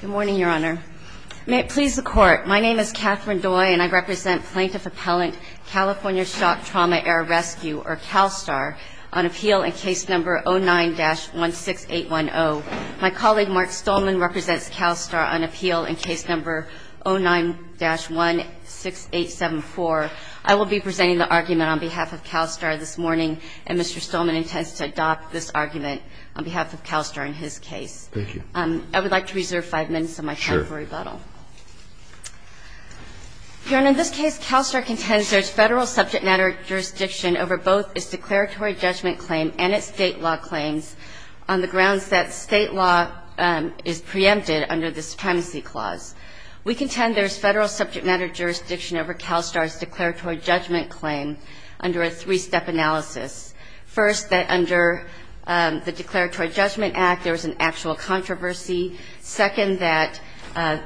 Good morning, Your Honor. May it please the Court, my name is Catherine Doy and I represent Plaintiff Appellant, California Shock Trauma Air Rescue, or CALSTAR, on appeal in case number 09-16810. My colleague, Mark Stolman, represents CALSTAR on appeal in case number 09-16874. I will be presenting the argument on behalf of CALSTAR this morning, and Mr. Stolman intends to adopt this argument on behalf of CALSTAR in his case. I would like to reserve five minutes of my time for rebuttal. Your Honor, in this case, CALSTAR contends there is federal subject matter jurisdiction over both its declaratory judgment claim and its state law claims on the grounds that state law is preempted under the Supremacy Clause. We contend there is federal subject matter jurisdiction over CALSTAR's declaratory judgment claim under a three-step analysis. First, that under the Declaratory Judgment Act, there is an actual controversy. Second, that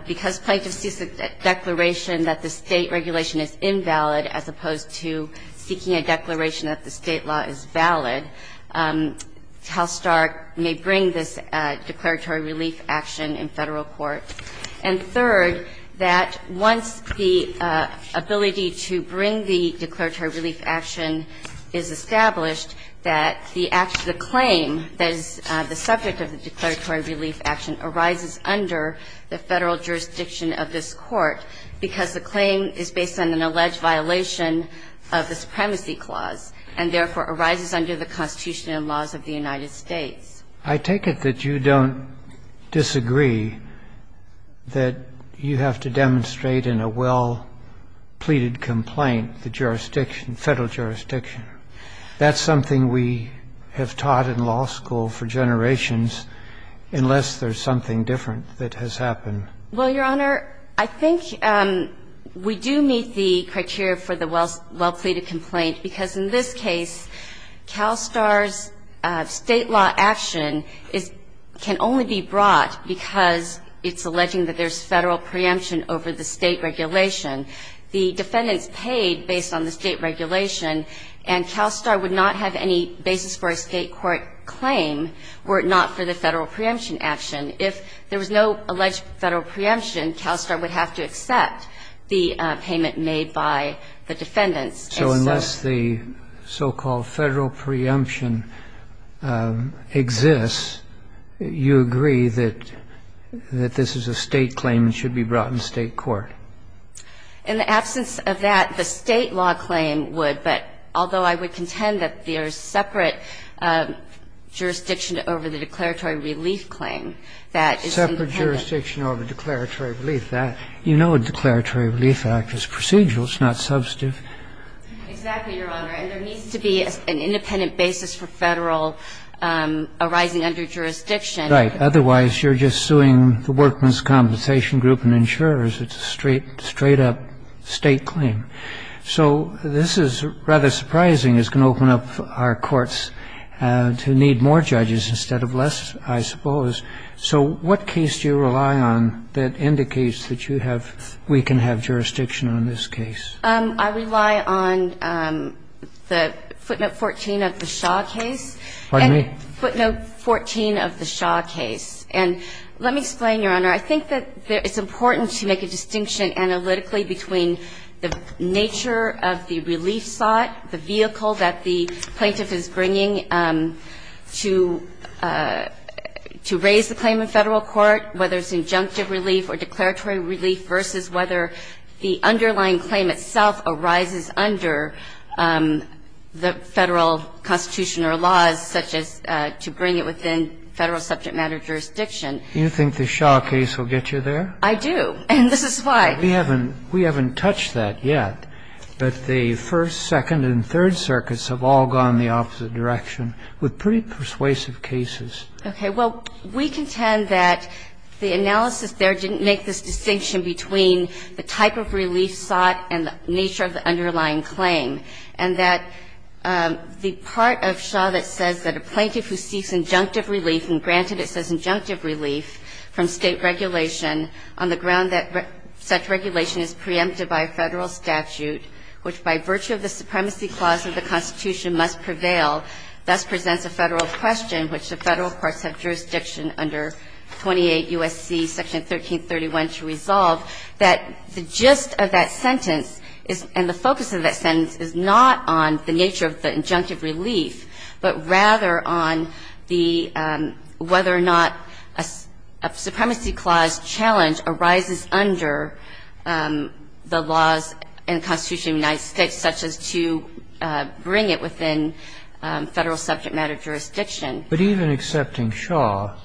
because plaintiff sees a declaration that the state regulation is invalid as opposed to seeking a declaration that the state law is valid, CALSTAR may bring this declaratory relief action in Federal court. And third, that once the ability to bring the declaratory relief action is established, that the claim that is the subject of the declaratory relief action arises under the Federal jurisdiction of this court, because the claim is based on an alleged violation of the Supremacy Clause and therefore arises under the Constitution and laws of the United States. I take it that you don't disagree that you have to demonstrate in a well-pleaded complaint the jurisdiction, Federal jurisdiction. That's something we have taught in law school for generations, unless there's something different that has happened. Well, Your Honor, I think we do meet the criteria for the well-pleaded complaint, because in this case, CALSTAR's state law action can only be brought because it's alleging that there's Federal preemption over the state regulation. The defendants paid based on the state regulation, and CALSTAR would not have any basis for a state court claim were it not for the Federal preemption action. If there was no alleged Federal preemption, CALSTAR would have to accept the payment made by the defendants. So unless the so-called Federal preemption exists, you agree that this is a state claim that should be brought in state court? In the absence of that, the state law claim would, but although I would contend that there's separate jurisdiction over the declaratory relief claim, that is independent. Separate jurisdiction over declaratory relief. You know a declaratory relief act is procedural. It's not substantive. Exactly, Your Honor. And there needs to be an independent basis for Federal arising under jurisdiction. Right. Otherwise, you're just suing the Workman's Compensation Group and insurers. It's a straight-up state claim. So this is rather surprising. It's going to open up our courts to need more judges instead of less, I suppose. So what case do you rely on that indicates that you have we can have jurisdiction on this case? I rely on the footnote 14 of the Shaw case. Pardon me? Footnote 14 of the Shaw case. And let me explain, Your Honor. I think that it's important to make a distinction analytically between the nature of the relief sought, the vehicle that the plaintiff is bringing to raise the claim in Federal court, whether it's injunctive relief or declaratory relief, versus whether the underlying claim itself arises under the Federal constitution or laws such as to bring it within Federal subject matter jurisdiction. Do you think the Shaw case will get you there? I do. And this is why. We haven't touched that yet. But the First, Second, and Third Circuits have all gone the opposite direction with pretty persuasive cases. Okay. Well, we contend that the analysis there didn't make this distinction between the type of relief sought and the nature of the underlying claim, and that the part of Shaw that says that a plaintiff who seeks injunctive relief, and granted it says injunctive relief from State regulation on the ground that such regulation is preempted by a Federal statute, which by virtue of the supremacy clause of the United States, such as to bring it within Federal subject matter jurisdiction. But even accepting that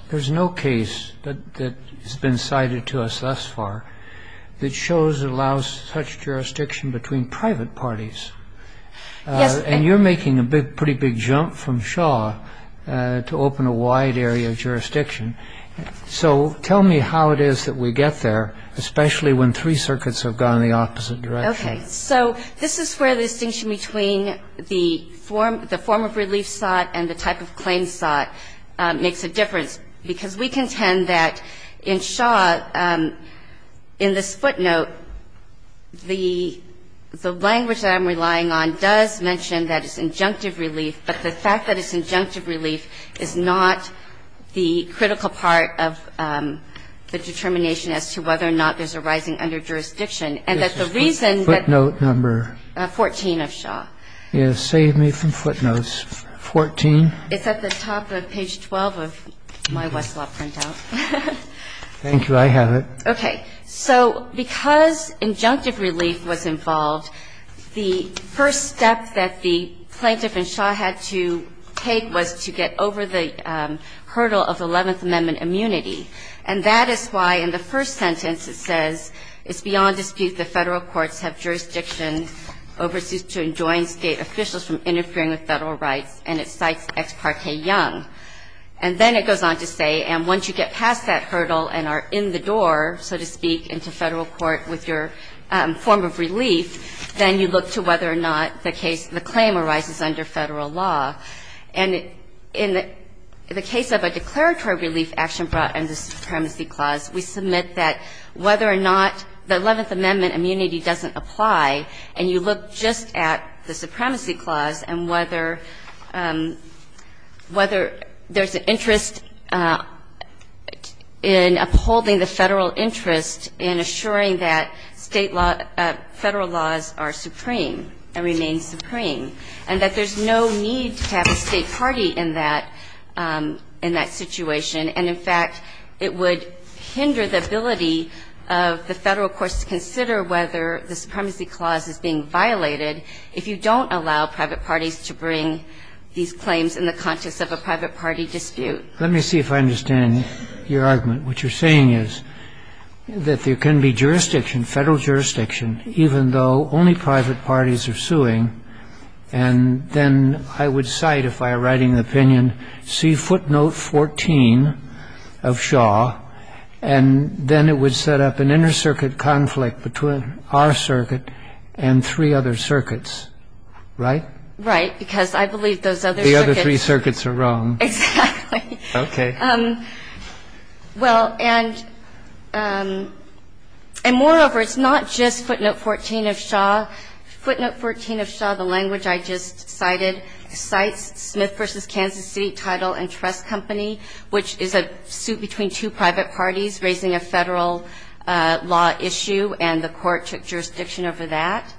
the plaintiff is seeking injunctive relief from State there's no case that has been cited to us thus far that shows and allows such jurisdiction between private parties. Yes. And you're making a pretty big jump from Shaw to open a wide area of jurisdiction. So tell me how it is that we get there, especially when three circuits have gone the opposite direction. Okay. So this is where the distinction between the form of relief sought and the type of claim sought makes a difference. Because we contend that in Shaw, in this footnote, the language that I'm relying on does mention that it's injunctive relief, but the fact that it's injunctive relief is not the critical part of the determination as to whether or not there's a rising underjurisdiction. And that the reason that 14 of Shaw. Yes, save me from footnotes. 14. It's at the top of page 12 of my Westlaw printout. Thank you. I have it. Okay. So because injunctive relief was involved, the first step that the plaintiff in Shaw had to take was to get over the hurdle of the Eleventh Amendment immunity. And that is why in the first sentence it says, It's beyond dispute that Federal courts have jurisdiction overseas to enjoin State officials from interfering with Federal rights. And it cites Ex parte Young. And then it goes on to say, and once you get past that hurdle and are in the door, so to speak, into Federal court with your form of relief, then you look to whether or not the case, the claim arises under Federal law. And in the case of a declaratory relief action brought under the Supremacy Clause, we submit that whether or not the Eleventh Amendment immunity doesn't apply, and you look just at the Supremacy Clause and whether there's an interest in upholding the Federal interest in assuring that State law, Federal laws are supreme and remain supreme, and that there's no need to have a State party in that situation. And, in fact, it would hinder the ability of the Federal courts to consider whether the Supremacy Clause is being violated if you don't allow private parties to bring these claims in the context of a private party dispute. Let me see if I understand your argument. What you're saying is that there can be jurisdiction, Federal jurisdiction, even though only private parties are suing, and then I would cite, if I am writing an opinion, see footnote 14 of Shaw, and then it would set up an intercircuit conflict between our circuit and three other circuits, right? Right, because I believe those other circuits are wrong. The other three circuits are wrong. Exactly. Okay. Well, and moreover, it's not just footnote 14 of Shaw. Footnote 14 of Shaw, the language I just cited, cites Smith v. Kansas City Title and Trust Company, which is a suit between two private parties raising a Federal law issue, and the Court took jurisdiction over that.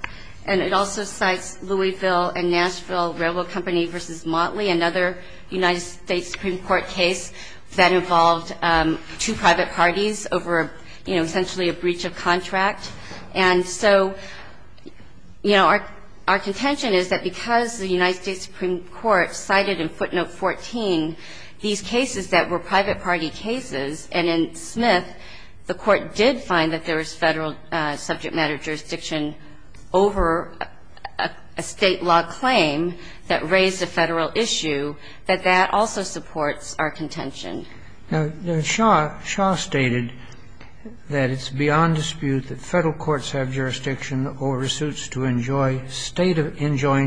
And it also cites Louisville and Nashville Railroad Company v. Motley, another United States Supreme Court case that involved two private parties over, you know, essentially a breach of contract. And so, you know, our contention is that because the United States Supreme Court cited in footnote 14 these cases that were private party cases, and in Smith the Court did find that there was Federal subject matter jurisdiction over a State law claim that raised a Federal issue, that that also supports our contention. Now, Shaw stated that it's beyond dispute that Federal courts have jurisdiction over suits to enjoin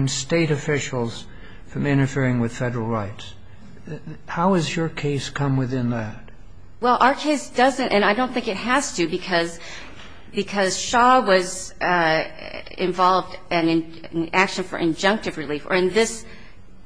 State officials from interfering with Federal rights. How has your case come within that? Well, our case doesn't, and I don't think it has to, because Shaw was involved in an action for injunctive relief. Or in this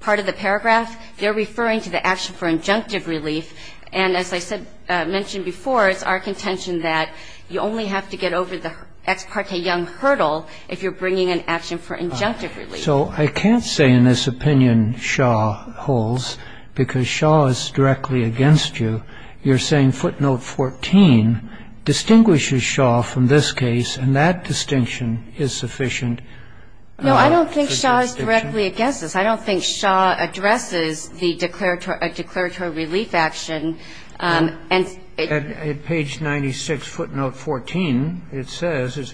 part of the paragraph, they're referring to the action for injunctive relief, and as I said, mentioned before, it's our contention that you only have to get over the ex parte Young hurdle if you're bringing an action for injunctive relief. So I can't say in this opinion Shaw holds, because Shaw is directly against you. You're saying footnote 14 distinguishes Shaw from this case, and that distinction is sufficient. No, I don't think Shaw is directly against us. I don't think Shaw addresses the declaratory relief action. And it's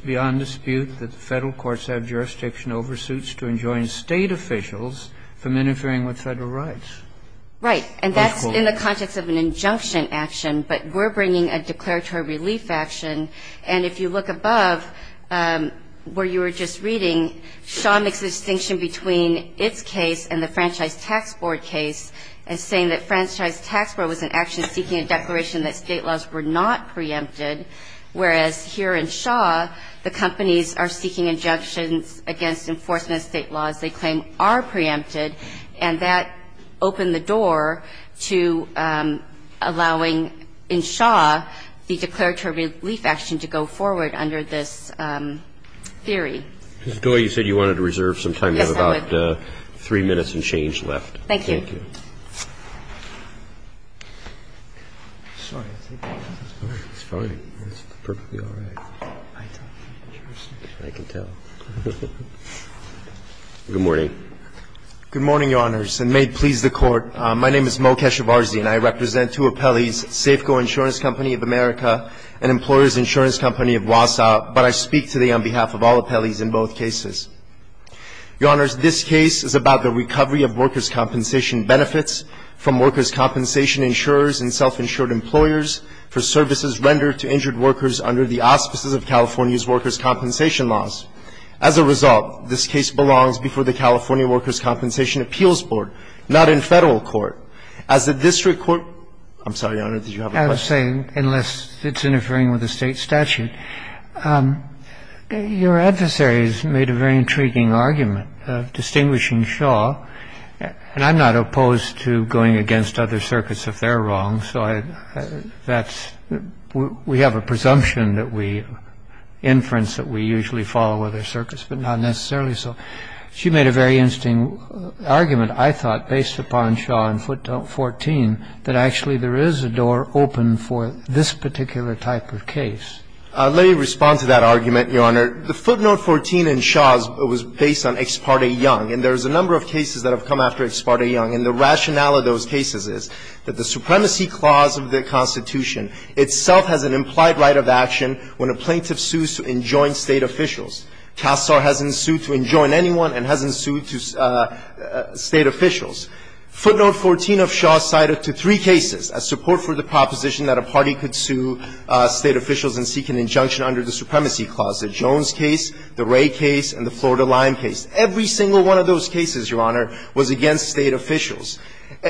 beyond dispute that Federal courts have jurisdiction over suits to enjoin State officials from interfering with Federal rights. Right. And that's in the context of an injunction action. But we're bringing a declaratory relief action. And if you look above where you were just reading, Shaw makes a distinction between its case and the Franchise Tax Board case as saying that Franchise Tax Board was in action seeking a declaration that State laws were not preempted, whereas here in Shaw, the companies are seeking injunctions against enforcement of State laws they claim are preempted, and that opened the door to allowing in Shaw the declaratory relief action to go forward under this theory. Ms. Doyle, you said you wanted to reserve some time. Yes, I would. You have about three minutes and change left. Thank you. Thank you. Good morning. Good morning, Your Honors, and may it please the Court. My name is Mo Keshavarzian. I represent two appellees, Safeco Insurance Company of America and Employers Insurance Company of Wausau. But I speak today on behalf of all appellees in both cases. Your Honors, this case is about the recovery of workers' compensation benefits from workers' compensation insurers and self-insured employers for services rendered to injured workers under the auspices of California's workers' compensation laws. As a result, this case belongs before the California Workers' Compensation Appeals Board, not in Federal court. As a district court – I'm sorry, Your Honors, did you have a question? I was saying, unless it's interfering with the State statute, your adversary has made a very intriguing argument of distinguishing Shaw. And I'm not opposed to going against other circuits if they're wrong, so I – that's – we have a presumption that we inference that we usually follow other circuits, but not necessarily so. She made a very interesting argument, I thought, based upon Shaw and footnote 14, that actually there is a door open for this particular type of case. Let me respond to that argument, Your Honor. The footnote 14 in Shaw's was based on Ex parte Young. And there's a number of cases that have come after Ex parte Young. And the rationale of those cases is that the supremacy clause of the Constitution itself has an implied right of action when a plaintiff sues to enjoin State officials. CASAR hasn't sued to enjoin anyone and hasn't sued to State officials. Footnote 14 of Shaw cited to three cases a support for the proposition that a party could sue State officials in seeking injunction under the supremacy clause, the Jones case, the Ray case, and the Florida Lyme case. Every single one of those cases, Your Honor, was against State officials.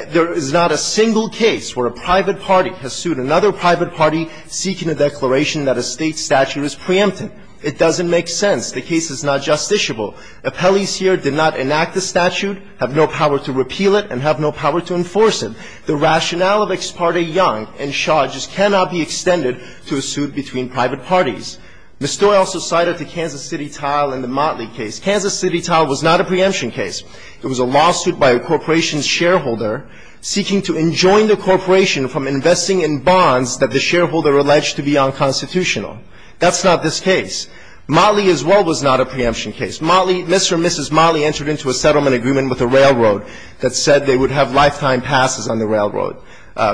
There is not a single case where a private party has sued another private party seeking a declaration that a State statute is preemptive. It doesn't make sense. The case is not justiciable. Appellees here did not enact the statute, have no power to repeal it, and have no power to enforce it. The rationale of Ex parte Young and Shaw just cannot be extended to a suit between private parties. Ms. Stoyer also cited the Kansas City Tile and the Motley case. Kansas City Tile was not a preemption case. It was a lawsuit by a corporation's shareholder seeking to enjoin the corporation from investing in bonds that the shareholder alleged to be unconstitutional. That's not this case. Motley as well was not a preemption case. Motley, Mr. and Mrs. Motley entered into a settlement agreement with the railroad that said they would have lifetime passes on the railroad.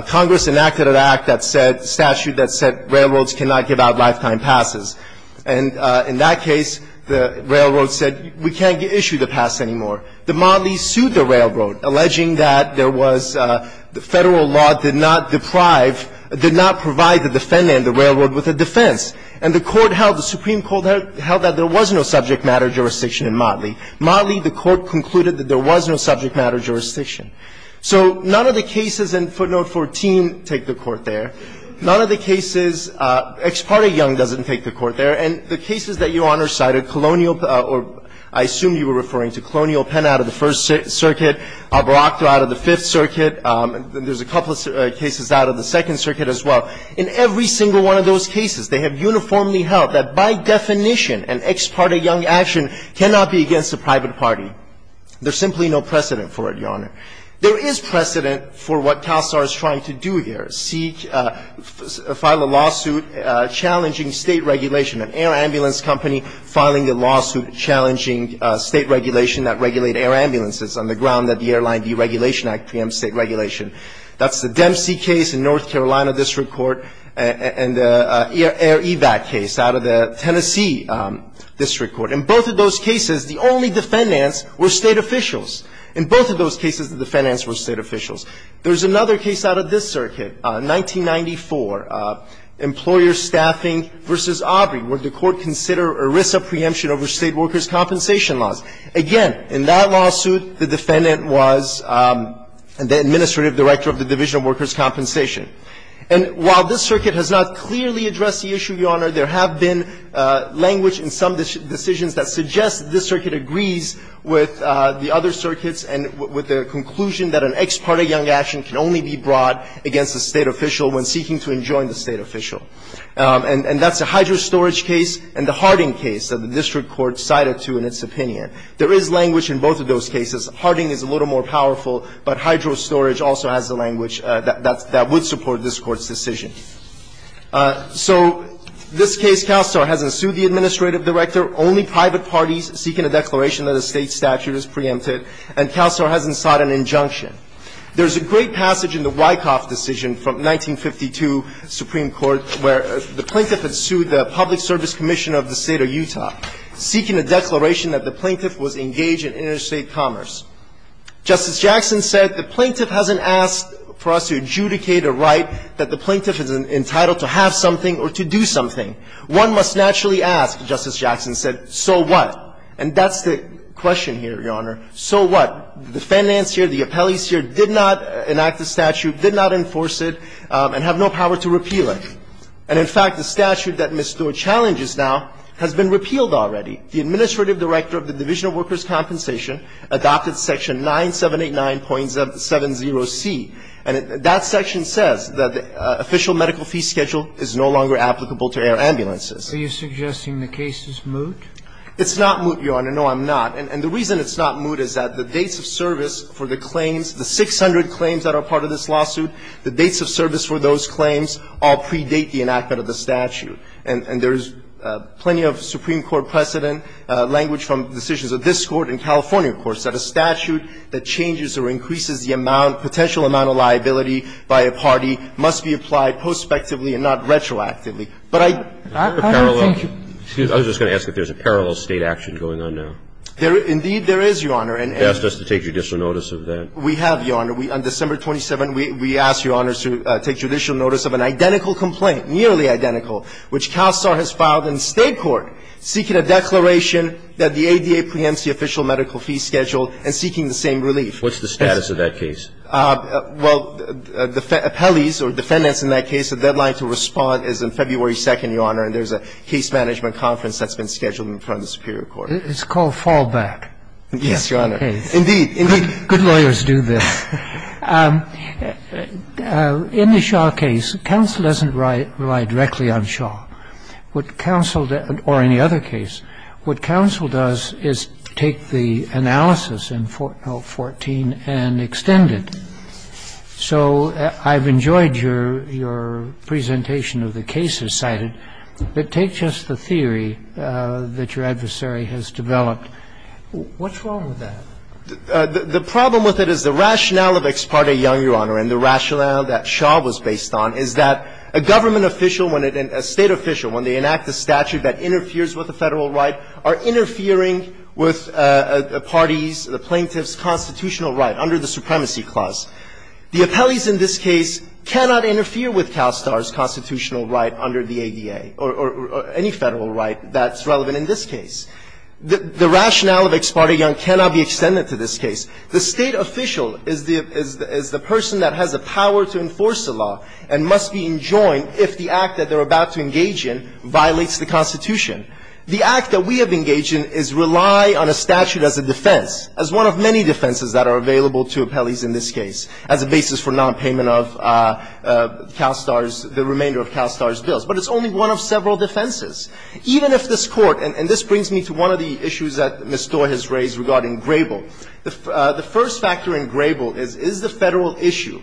Congress enacted an act that said, statute that said railroads cannot give out lifetime passes. And in that case, the railroad said we can't issue the pass anymore. The Motley sued the railroad, alleging that there was Federal law did not deprive or did not provide the defendant, the railroad, with a defense. And the court held, the Supreme Court held that there was no subject matter jurisdiction in Motley. Motley, the court concluded that there was no subject matter jurisdiction. So none of the cases in footnote 14 take the court there. None of the cases Ex parte Young doesn't take the court there. And the cases that Your Honor cited, colonial or I assume you were referring to colonial Penn out of the First Circuit, Barakta out of the Fifth Circuit. There's a couple of cases out of the Second Circuit as well. In every single one of those cases, they have uniformly held that by definition an Ex parte Young action cannot be against a private party. There's simply no precedent for it, Your Honor. There is precedent for what TASAR is trying to do here, seek, file a lawsuit challenging State regulation, an air ambulance company filing a lawsuit challenging State regulation that regulate air ambulances on the ground that the Airline Deregulation Act preempts State regulation. That's the Dempsey case in North Carolina District Court and the Air Evac case out of the Tennessee District Court. In both of those cases, the only defendants were State officials. In both of those cases, the defendants were State officials. There's another case out of this circuit, 1994, Employer Staffing v. Aubrey, where the Court considered ERISA preemption over State workers' compensation laws. Again, in that lawsuit, the defendant was the administrative director of the Division of Workers' Compensation. And while this circuit has not clearly addressed the issue, Your Honor, there have been language in some decisions that suggests this circuit agrees with the other circuits and with the conclusion that an Ex parte Young action can only be brought against a State official when seeking to enjoin the State official. And that's the Hydro Storage case and the Harding case that the district court cited to in its opinion. There is language in both of those cases. Harding is a little more powerful, but Hydro Storage also has the language that would support this Court's decision. So this case, CalSTAR hasn't sued the administrative director, only private parties seeking a declaration that a State statute is preempted, and CalSTAR hasn't sought an injunction. There is a great passage in the Wyckoff decision from 1952 Supreme Court where the plaintiff had sued the Public Service Commission of the State of Utah, seeking a declaration that the plaintiff was engaged in interstate commerce. Justice Jackson said the plaintiff hasn't asked for us to adjudicate a right that the plaintiff is entitled to have something or to do something. One must naturally ask, Justice Jackson said, so what? And that's the question here, Your Honor. So what? The finance here, the appellees here did not enact the statute, did not enforce it, and have no power to repeal it. And in fact, the statute that misstood challenges now has been repealed already. The administrative director of the Division of Workers' Compensation adopted section 9789.70c, and that section says that the official medical fee schedule is no longer applicable to air ambulances. Are you suggesting the case is moot? It's not moot, Your Honor. No, I'm not. And the reason it's not moot is that the dates of service for the claims, the 600 claims that are part of this lawsuit, the dates of service for those claims all predate the enactment of the statute. And there's plenty of Supreme Court precedent, language from decisions of this Court and California courts, that a statute that changes or increases the amount, potential amount of liability by a party must be applied prospectively and not retroactively. But I don't think you can. I was just going to ask if there's a parallel State action going on now. There is. Indeed, there is, Your Honor. You asked us to take judicial notice of that. We have, Your Honor. On December 27th, we asked, Your Honor, to take judicial notice of an identical complaint, nearly identical, which CalSTAR has filed in the State court seeking a declaration that the ADA preempts the official medical fee schedule and seeking the same relief. What's the status of that case? Well, the appellees or defendants in that case, the deadline to respond is on February 2nd, Your Honor, and there's a case management conference that's been scheduled in front of the superior court. It's called Fallback. Yes, Your Honor. Indeed. Indeed. Good lawyers do this. In the Shaw case, counsel doesn't rely directly on Shaw. What counsel does, or any other case, what counsel does is take the analysis in 14 and extend it. So I've enjoyed your presentation of the cases cited, but take just the theory that your adversary has developed. What's wrong with that? The problem with it is the rationale of Ex parte Young, Your Honor, and the rationale that Shaw was based on is that a government official, a State official, when they enact a statute that interferes with the Federal right, are interfering with a party's plaintiff's constitutional right under the Supremacy Clause. The appellees in this case cannot interfere with CalSTAR's constitutional right under the ADA or any Federal right that's relevant in this case. The rationale of Ex parte Young cannot be extended to this case. The State official is the person that has the power to enforce the law and must be enjoined if the act that they're about to engage in violates the Constitution. The act that we have engaged in is rely on a statute as a defense, as one of many defenses that are available to appellees in this case, as a basis for nonpayment of CalSTAR's the remainder of CalSTAR's bills. But it's only one of several defenses. Even if this Court, and this brings me to one of the issues that Ms. Stoye has raised regarding Grable. The first factor in Grable is, is the Federal issue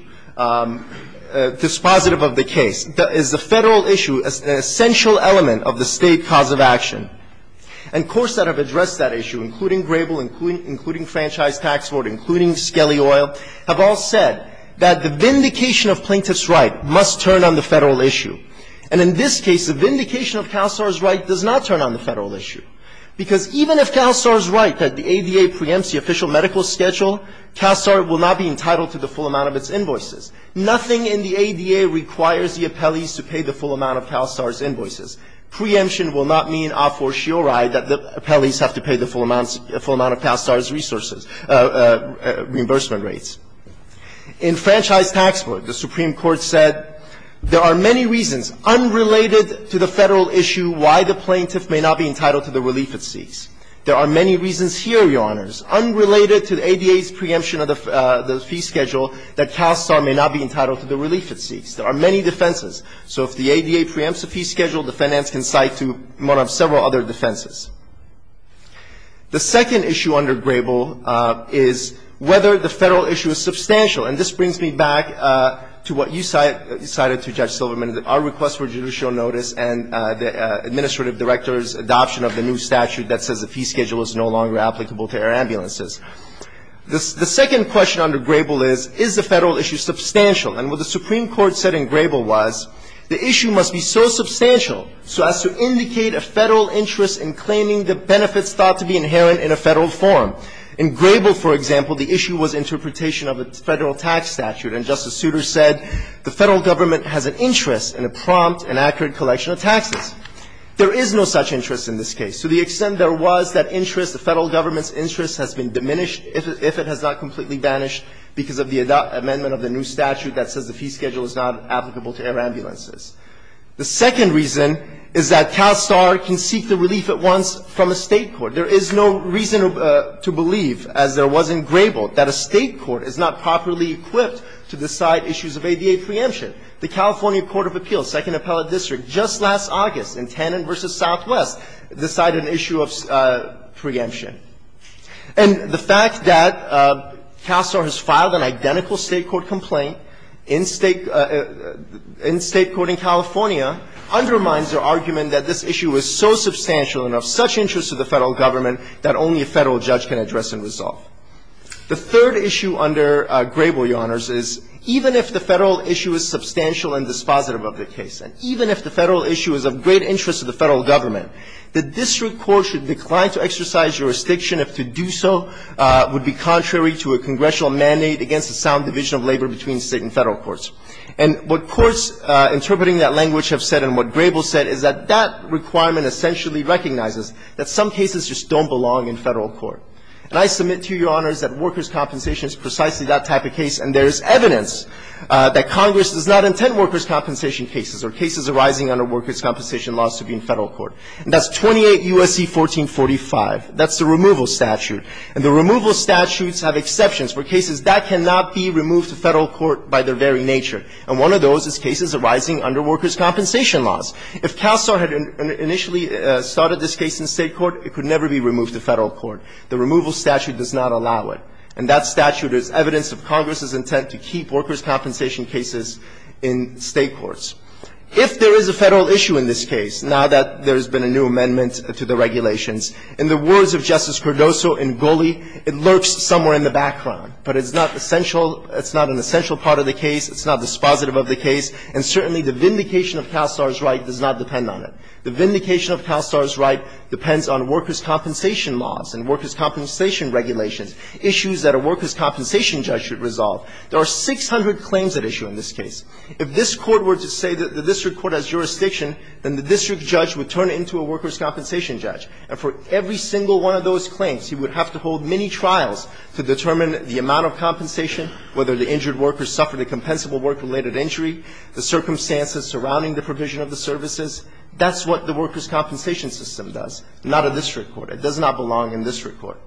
dispositive of the case? Is the Federal issue an essential element of the State cause of action? And courts that have addressed that issue, including Grable, including Franchise Tax Board, including Skelly Oil, have all said that the vindication of plaintiff's right must turn on the Federal issue. And in this case, the vindication of CalSTAR's right does not turn on the Federal issue, because even if CalSTAR's right, the ADA preempts the official medical schedule, CalSTAR will not be entitled to the full amount of its invoices. Nothing in the ADA requires the appellees to pay the full amount of CalSTAR's invoices. Preemption will not mean a fortiori that the appellees have to pay the full amount of CalSTAR's resources, reimbursement rates. In Franchise Tax Board, the Supreme Court said there are many reasons, unrelated to the Federal issue, why the plaintiff may not be entitled to the relief it seeks. There are many reasons here, Your Honors, unrelated to the ADA's preemption of the fee schedule, that CalSTAR may not be entitled to the relief it seeks. There are many defenses. So if the ADA preempts the fee schedule, the finance can cite to one of several other defenses. The second issue under Grable is whether the Federal issue is substantial. And this brings me back to what you cited to Judge Silverman, our request for judicial notice and the administrative director's adoption of the new statute that says the fee schedule is no longer applicable to air ambulances. The second question under Grable is, is the Federal issue substantial? And what the Supreme Court said in Grable was, the issue must be so substantial so as to indicate a Federal interest in claiming the benefits thought to be inherent in a Federal form. In Grable, for example, the issue was interpretation of a Federal tax statute. And Justice Souter said the Federal government has an interest in a prompt and accurate collection of taxes. There is no such interest in this case. To the extent there was, that interest, the Federal government's interest has been diminished if it has not completely vanished because of the amendment of the new statute that says the fee schedule is not applicable to air ambulances. The second reason is that CalSTAR can seek the relief at once from a State court. There is no reason to believe, as there was in Grable, that a State court is not properly equipped to decide issues of ADA preemption. The California Court of Appeals, Second Appellate District, just last August in Tannen v. Southwest, decided an issue of preemption. And the fact that CalSTAR has filed an identical State court complaint in State court in California undermines their argument that this issue is so substantial and of such interest to the Federal government that only a Federal judge can address and resolve. The third issue under Grable, Your Honors, is even if the Federal issue is substantial and dispositive of the case, and even if the Federal issue is of great interest to the Federal government, the district court should decline to exercise jurisdiction if to do so would be contrary to a congressional mandate against the sound division of labor between State and Federal courts. And what courts interpreting that language have said and what Grable said is that that requirement essentially recognizes that some cases just don't belong in Federal court. And I submit to you, Your Honors, that workers' compensation is precisely that type of case, and there is evidence that Congress does not intend workers' compensation cases or cases arising under workers' compensation laws to be in Federal court. And that's 28 U.S.C. 1445. That's the removal statute. And the removal statutes have exceptions for cases that cannot be removed to Federal court by their very nature. And one of those is cases arising under workers' compensation laws. If CalSTAR had initially started this case in State court, it could never be removed to Federal court. The removal statute does not allow it. And that statute is evidence of Congress's intent to keep workers' compensation cases in State courts. If there is a Federal issue in this case, now that there has been a new amendment to the regulations, in the words of Justice Cardoso in Goley, it lurks somewhere in the background. But it's not essential. It's not an essential part of the case. It's not dispositive of the case. And certainly the vindication of CalSTAR's right does not depend on it. The vindication of CalSTAR's right depends on workers' compensation laws and workers' compensation regulations, issues that a workers' compensation judge should resolve. There are 600 claims at issue in this case. If this Court were to say that the district court has jurisdiction, then the district judge would turn it into a workers' compensation judge. And for every single one of those claims, he would have to hold many trials to determine the amount of compensation, whether the injured worker suffered a compensable work-related injury, the circumstances surrounding the provision of the services. That's what the workers' compensation system does, not a district court. It does not belong in district court.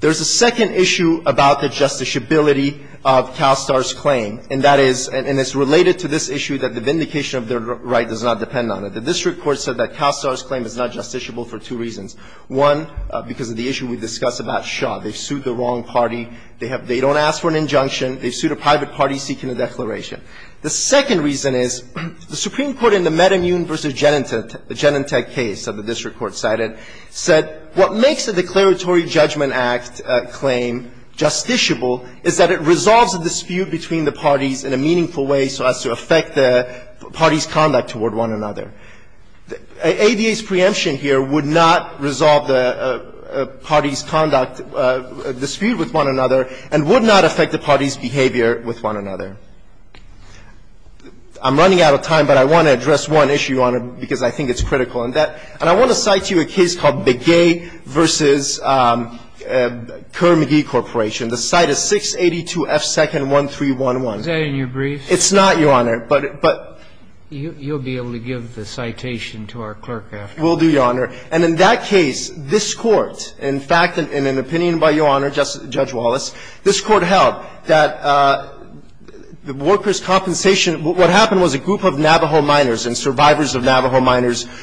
There's a second issue about the justiciability of CalSTAR's claim, and that is – and it's related to this issue that the vindication of their right does not depend on it. The district court said that CalSTAR's claim is not justiciable for two reasons. One, because of the issue we discussed about Shaw. They've sued the wrong party. They have – they don't ask for an injunction. They've sued a private party seeking a declaration. The second reason is the Supreme Court in the Metamune v. Genentech, the Genentech case that the district court cited, said what makes the Declaratory Judgment Act claim justiciable is that it resolves a dispute between the parties in a meaningful way so as to affect the party's conduct toward one another. ADA's preemption here would not resolve the party's conduct dispute with one another and would not affect the party's behavior with one another. I'm running out of time, but I want to address one issue on it because I think it's critical. And that – and I want to cite to you a case called Begay v. Kerr-McGee Corporation. The cite is 682 F. 2nd 1311. Is that in your briefs? It's not, Your Honor, but – but – You'll be able to give the citation to our clerk after. Will do, Your Honor. And in that case, this Court, in fact, in an opinion by Your Honor, Judge Wallace, this Court held that the workers' compensation – what happened was a group of Navajo miners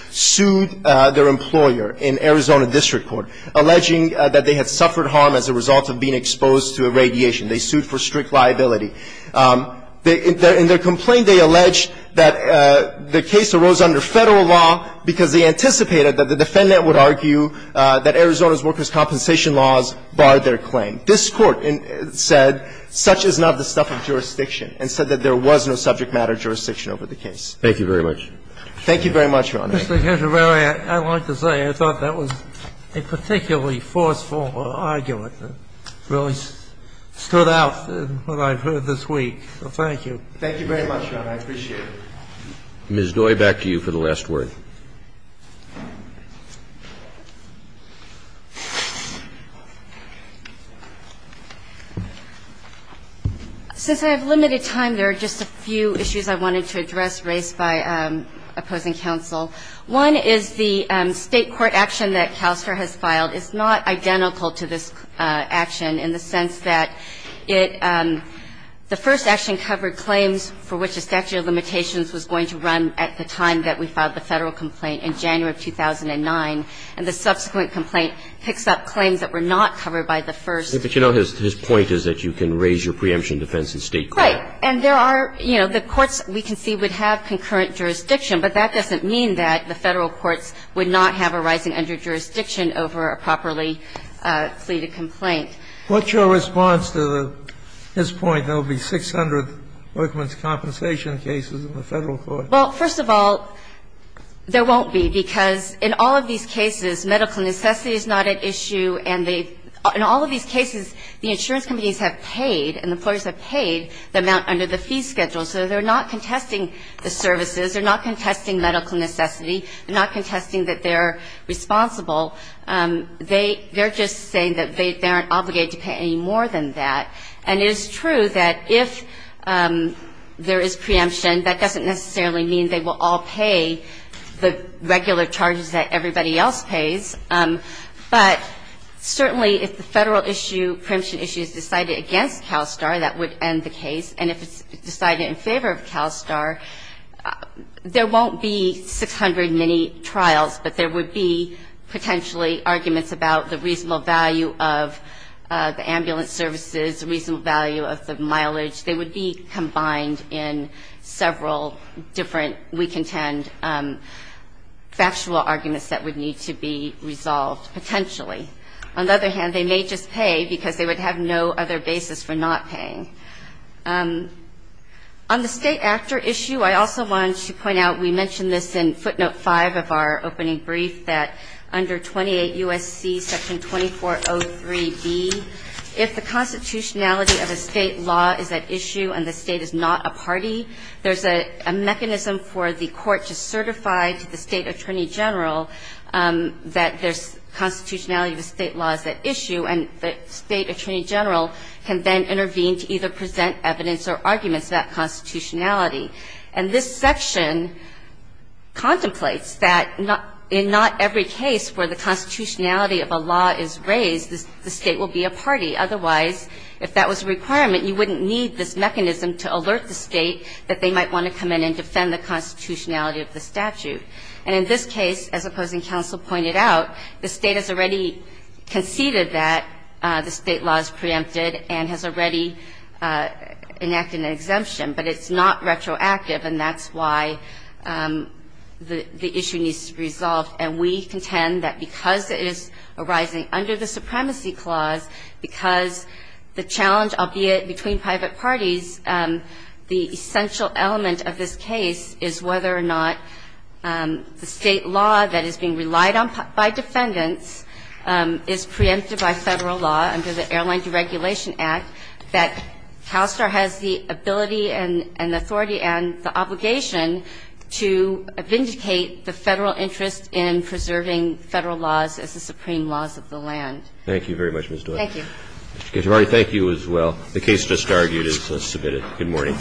sued their employer in Arizona District Court, alleging that they had suffered harm as a result of being exposed to irradiation. They sued for strict liability. In their complaint, they alleged that the case arose under Federal law because they anticipated that the defendant would argue that Arizona's workers' compensation laws barred their claim. This Court said such is not the stuff of jurisdiction and said that there was no subject matter jurisdiction over the case. Thank you very much. Thank you very much, Your Honor. Mr. Gershengorn, I'd like to say I thought that was a particularly forceful argument that really stood out in what I've heard this week. So thank you. Thank you very much, Your Honor. I appreciate it. Ms. Noy, back to you for the last word. Since I have limited time, there are just a few issues I wanted to address raised by opposing counsel. One is the State court action that CalSTRS has filed is not identical to this action in the sense that it the first action covered claims for which the statute of limitations was going to run at the time that we filed the Federal complaint in January of 2009, and the subsequent complaint picks up claims that were not covered by the first. But you know, his point is that you can raise your preemption defense in State court. And there are, you know, the courts, we can see, would have concurrent jurisdiction, but that doesn't mean that the Federal courts would not have a rising underjurisdiction over a properly pleaded complaint. What's your response to his point, there will be 600 workman's compensation cases in the Federal court? Well, first of all, there won't be, because in all of these cases, medical necessity is not at issue, and in all of these cases, the insurance companies have paid and the employers have paid the amount under the fee schedule. So they're not contesting the services. They're not contesting medical necessity. They're not contesting that they're responsible. They're just saying that they aren't obligated to pay any more than that. And it is true that if there is preemption, that doesn't necessarily mean they will all pay the regular charges that everybody else pays. But certainly, if the Federal issue, preemption issue is decided against CalSTAR, that would end the case. And if it's decided in favor of CalSTAR, there won't be 600 mini-trials, but there would be potentially arguments about the reasonable value of the ambulance services, reasonable value of the mileage. They would be combined in several different, we contend, factual arguments that would need to be resolved, potentially. On the other hand, they may just pay, because they would have no other basis for not paying. On the state actor issue, I also wanted to point out, we mentioned this in footnote 5 of our opening brief, that under 28 U.S.C. Section 2403B, if the constitutionality of a state law is at issue and the state is not a party, there's a mechanism for the court to certify to the state attorney general that the constitutionality of a state law is at issue, and the state attorney general can then intervene to either present evidence or arguments about constitutionality. And this section contemplates that in not every case where the constitutionality of a law is raised, the state will be a party. Otherwise, if that was a requirement, you wouldn't need this mechanism to alert the state that they might want to come in and defend the constitutionality of the statute. And in this case, as opposing counsel pointed out, the State has already conceded that the state law is preempted and has already enacted an exemption. But it's not retroactive, and that's why the issue needs to be resolved. And we contend that because it is arising under the Supremacy Clause, because the challenge, albeit between private parties, the essential element of this case is whether or not the state law that is being relied on by defendants is preempted by Federal law under the Airline Deregulation Act, that CalSTAR has the ability and the authority and the obligation to vindicate the Federal interest in preserving Federal laws as the supreme laws of the land. Thank you very much, Ms. Dwyer. Thank you. Mr. Katyal, I thank you as well. The case just argued is submitted. Good morning.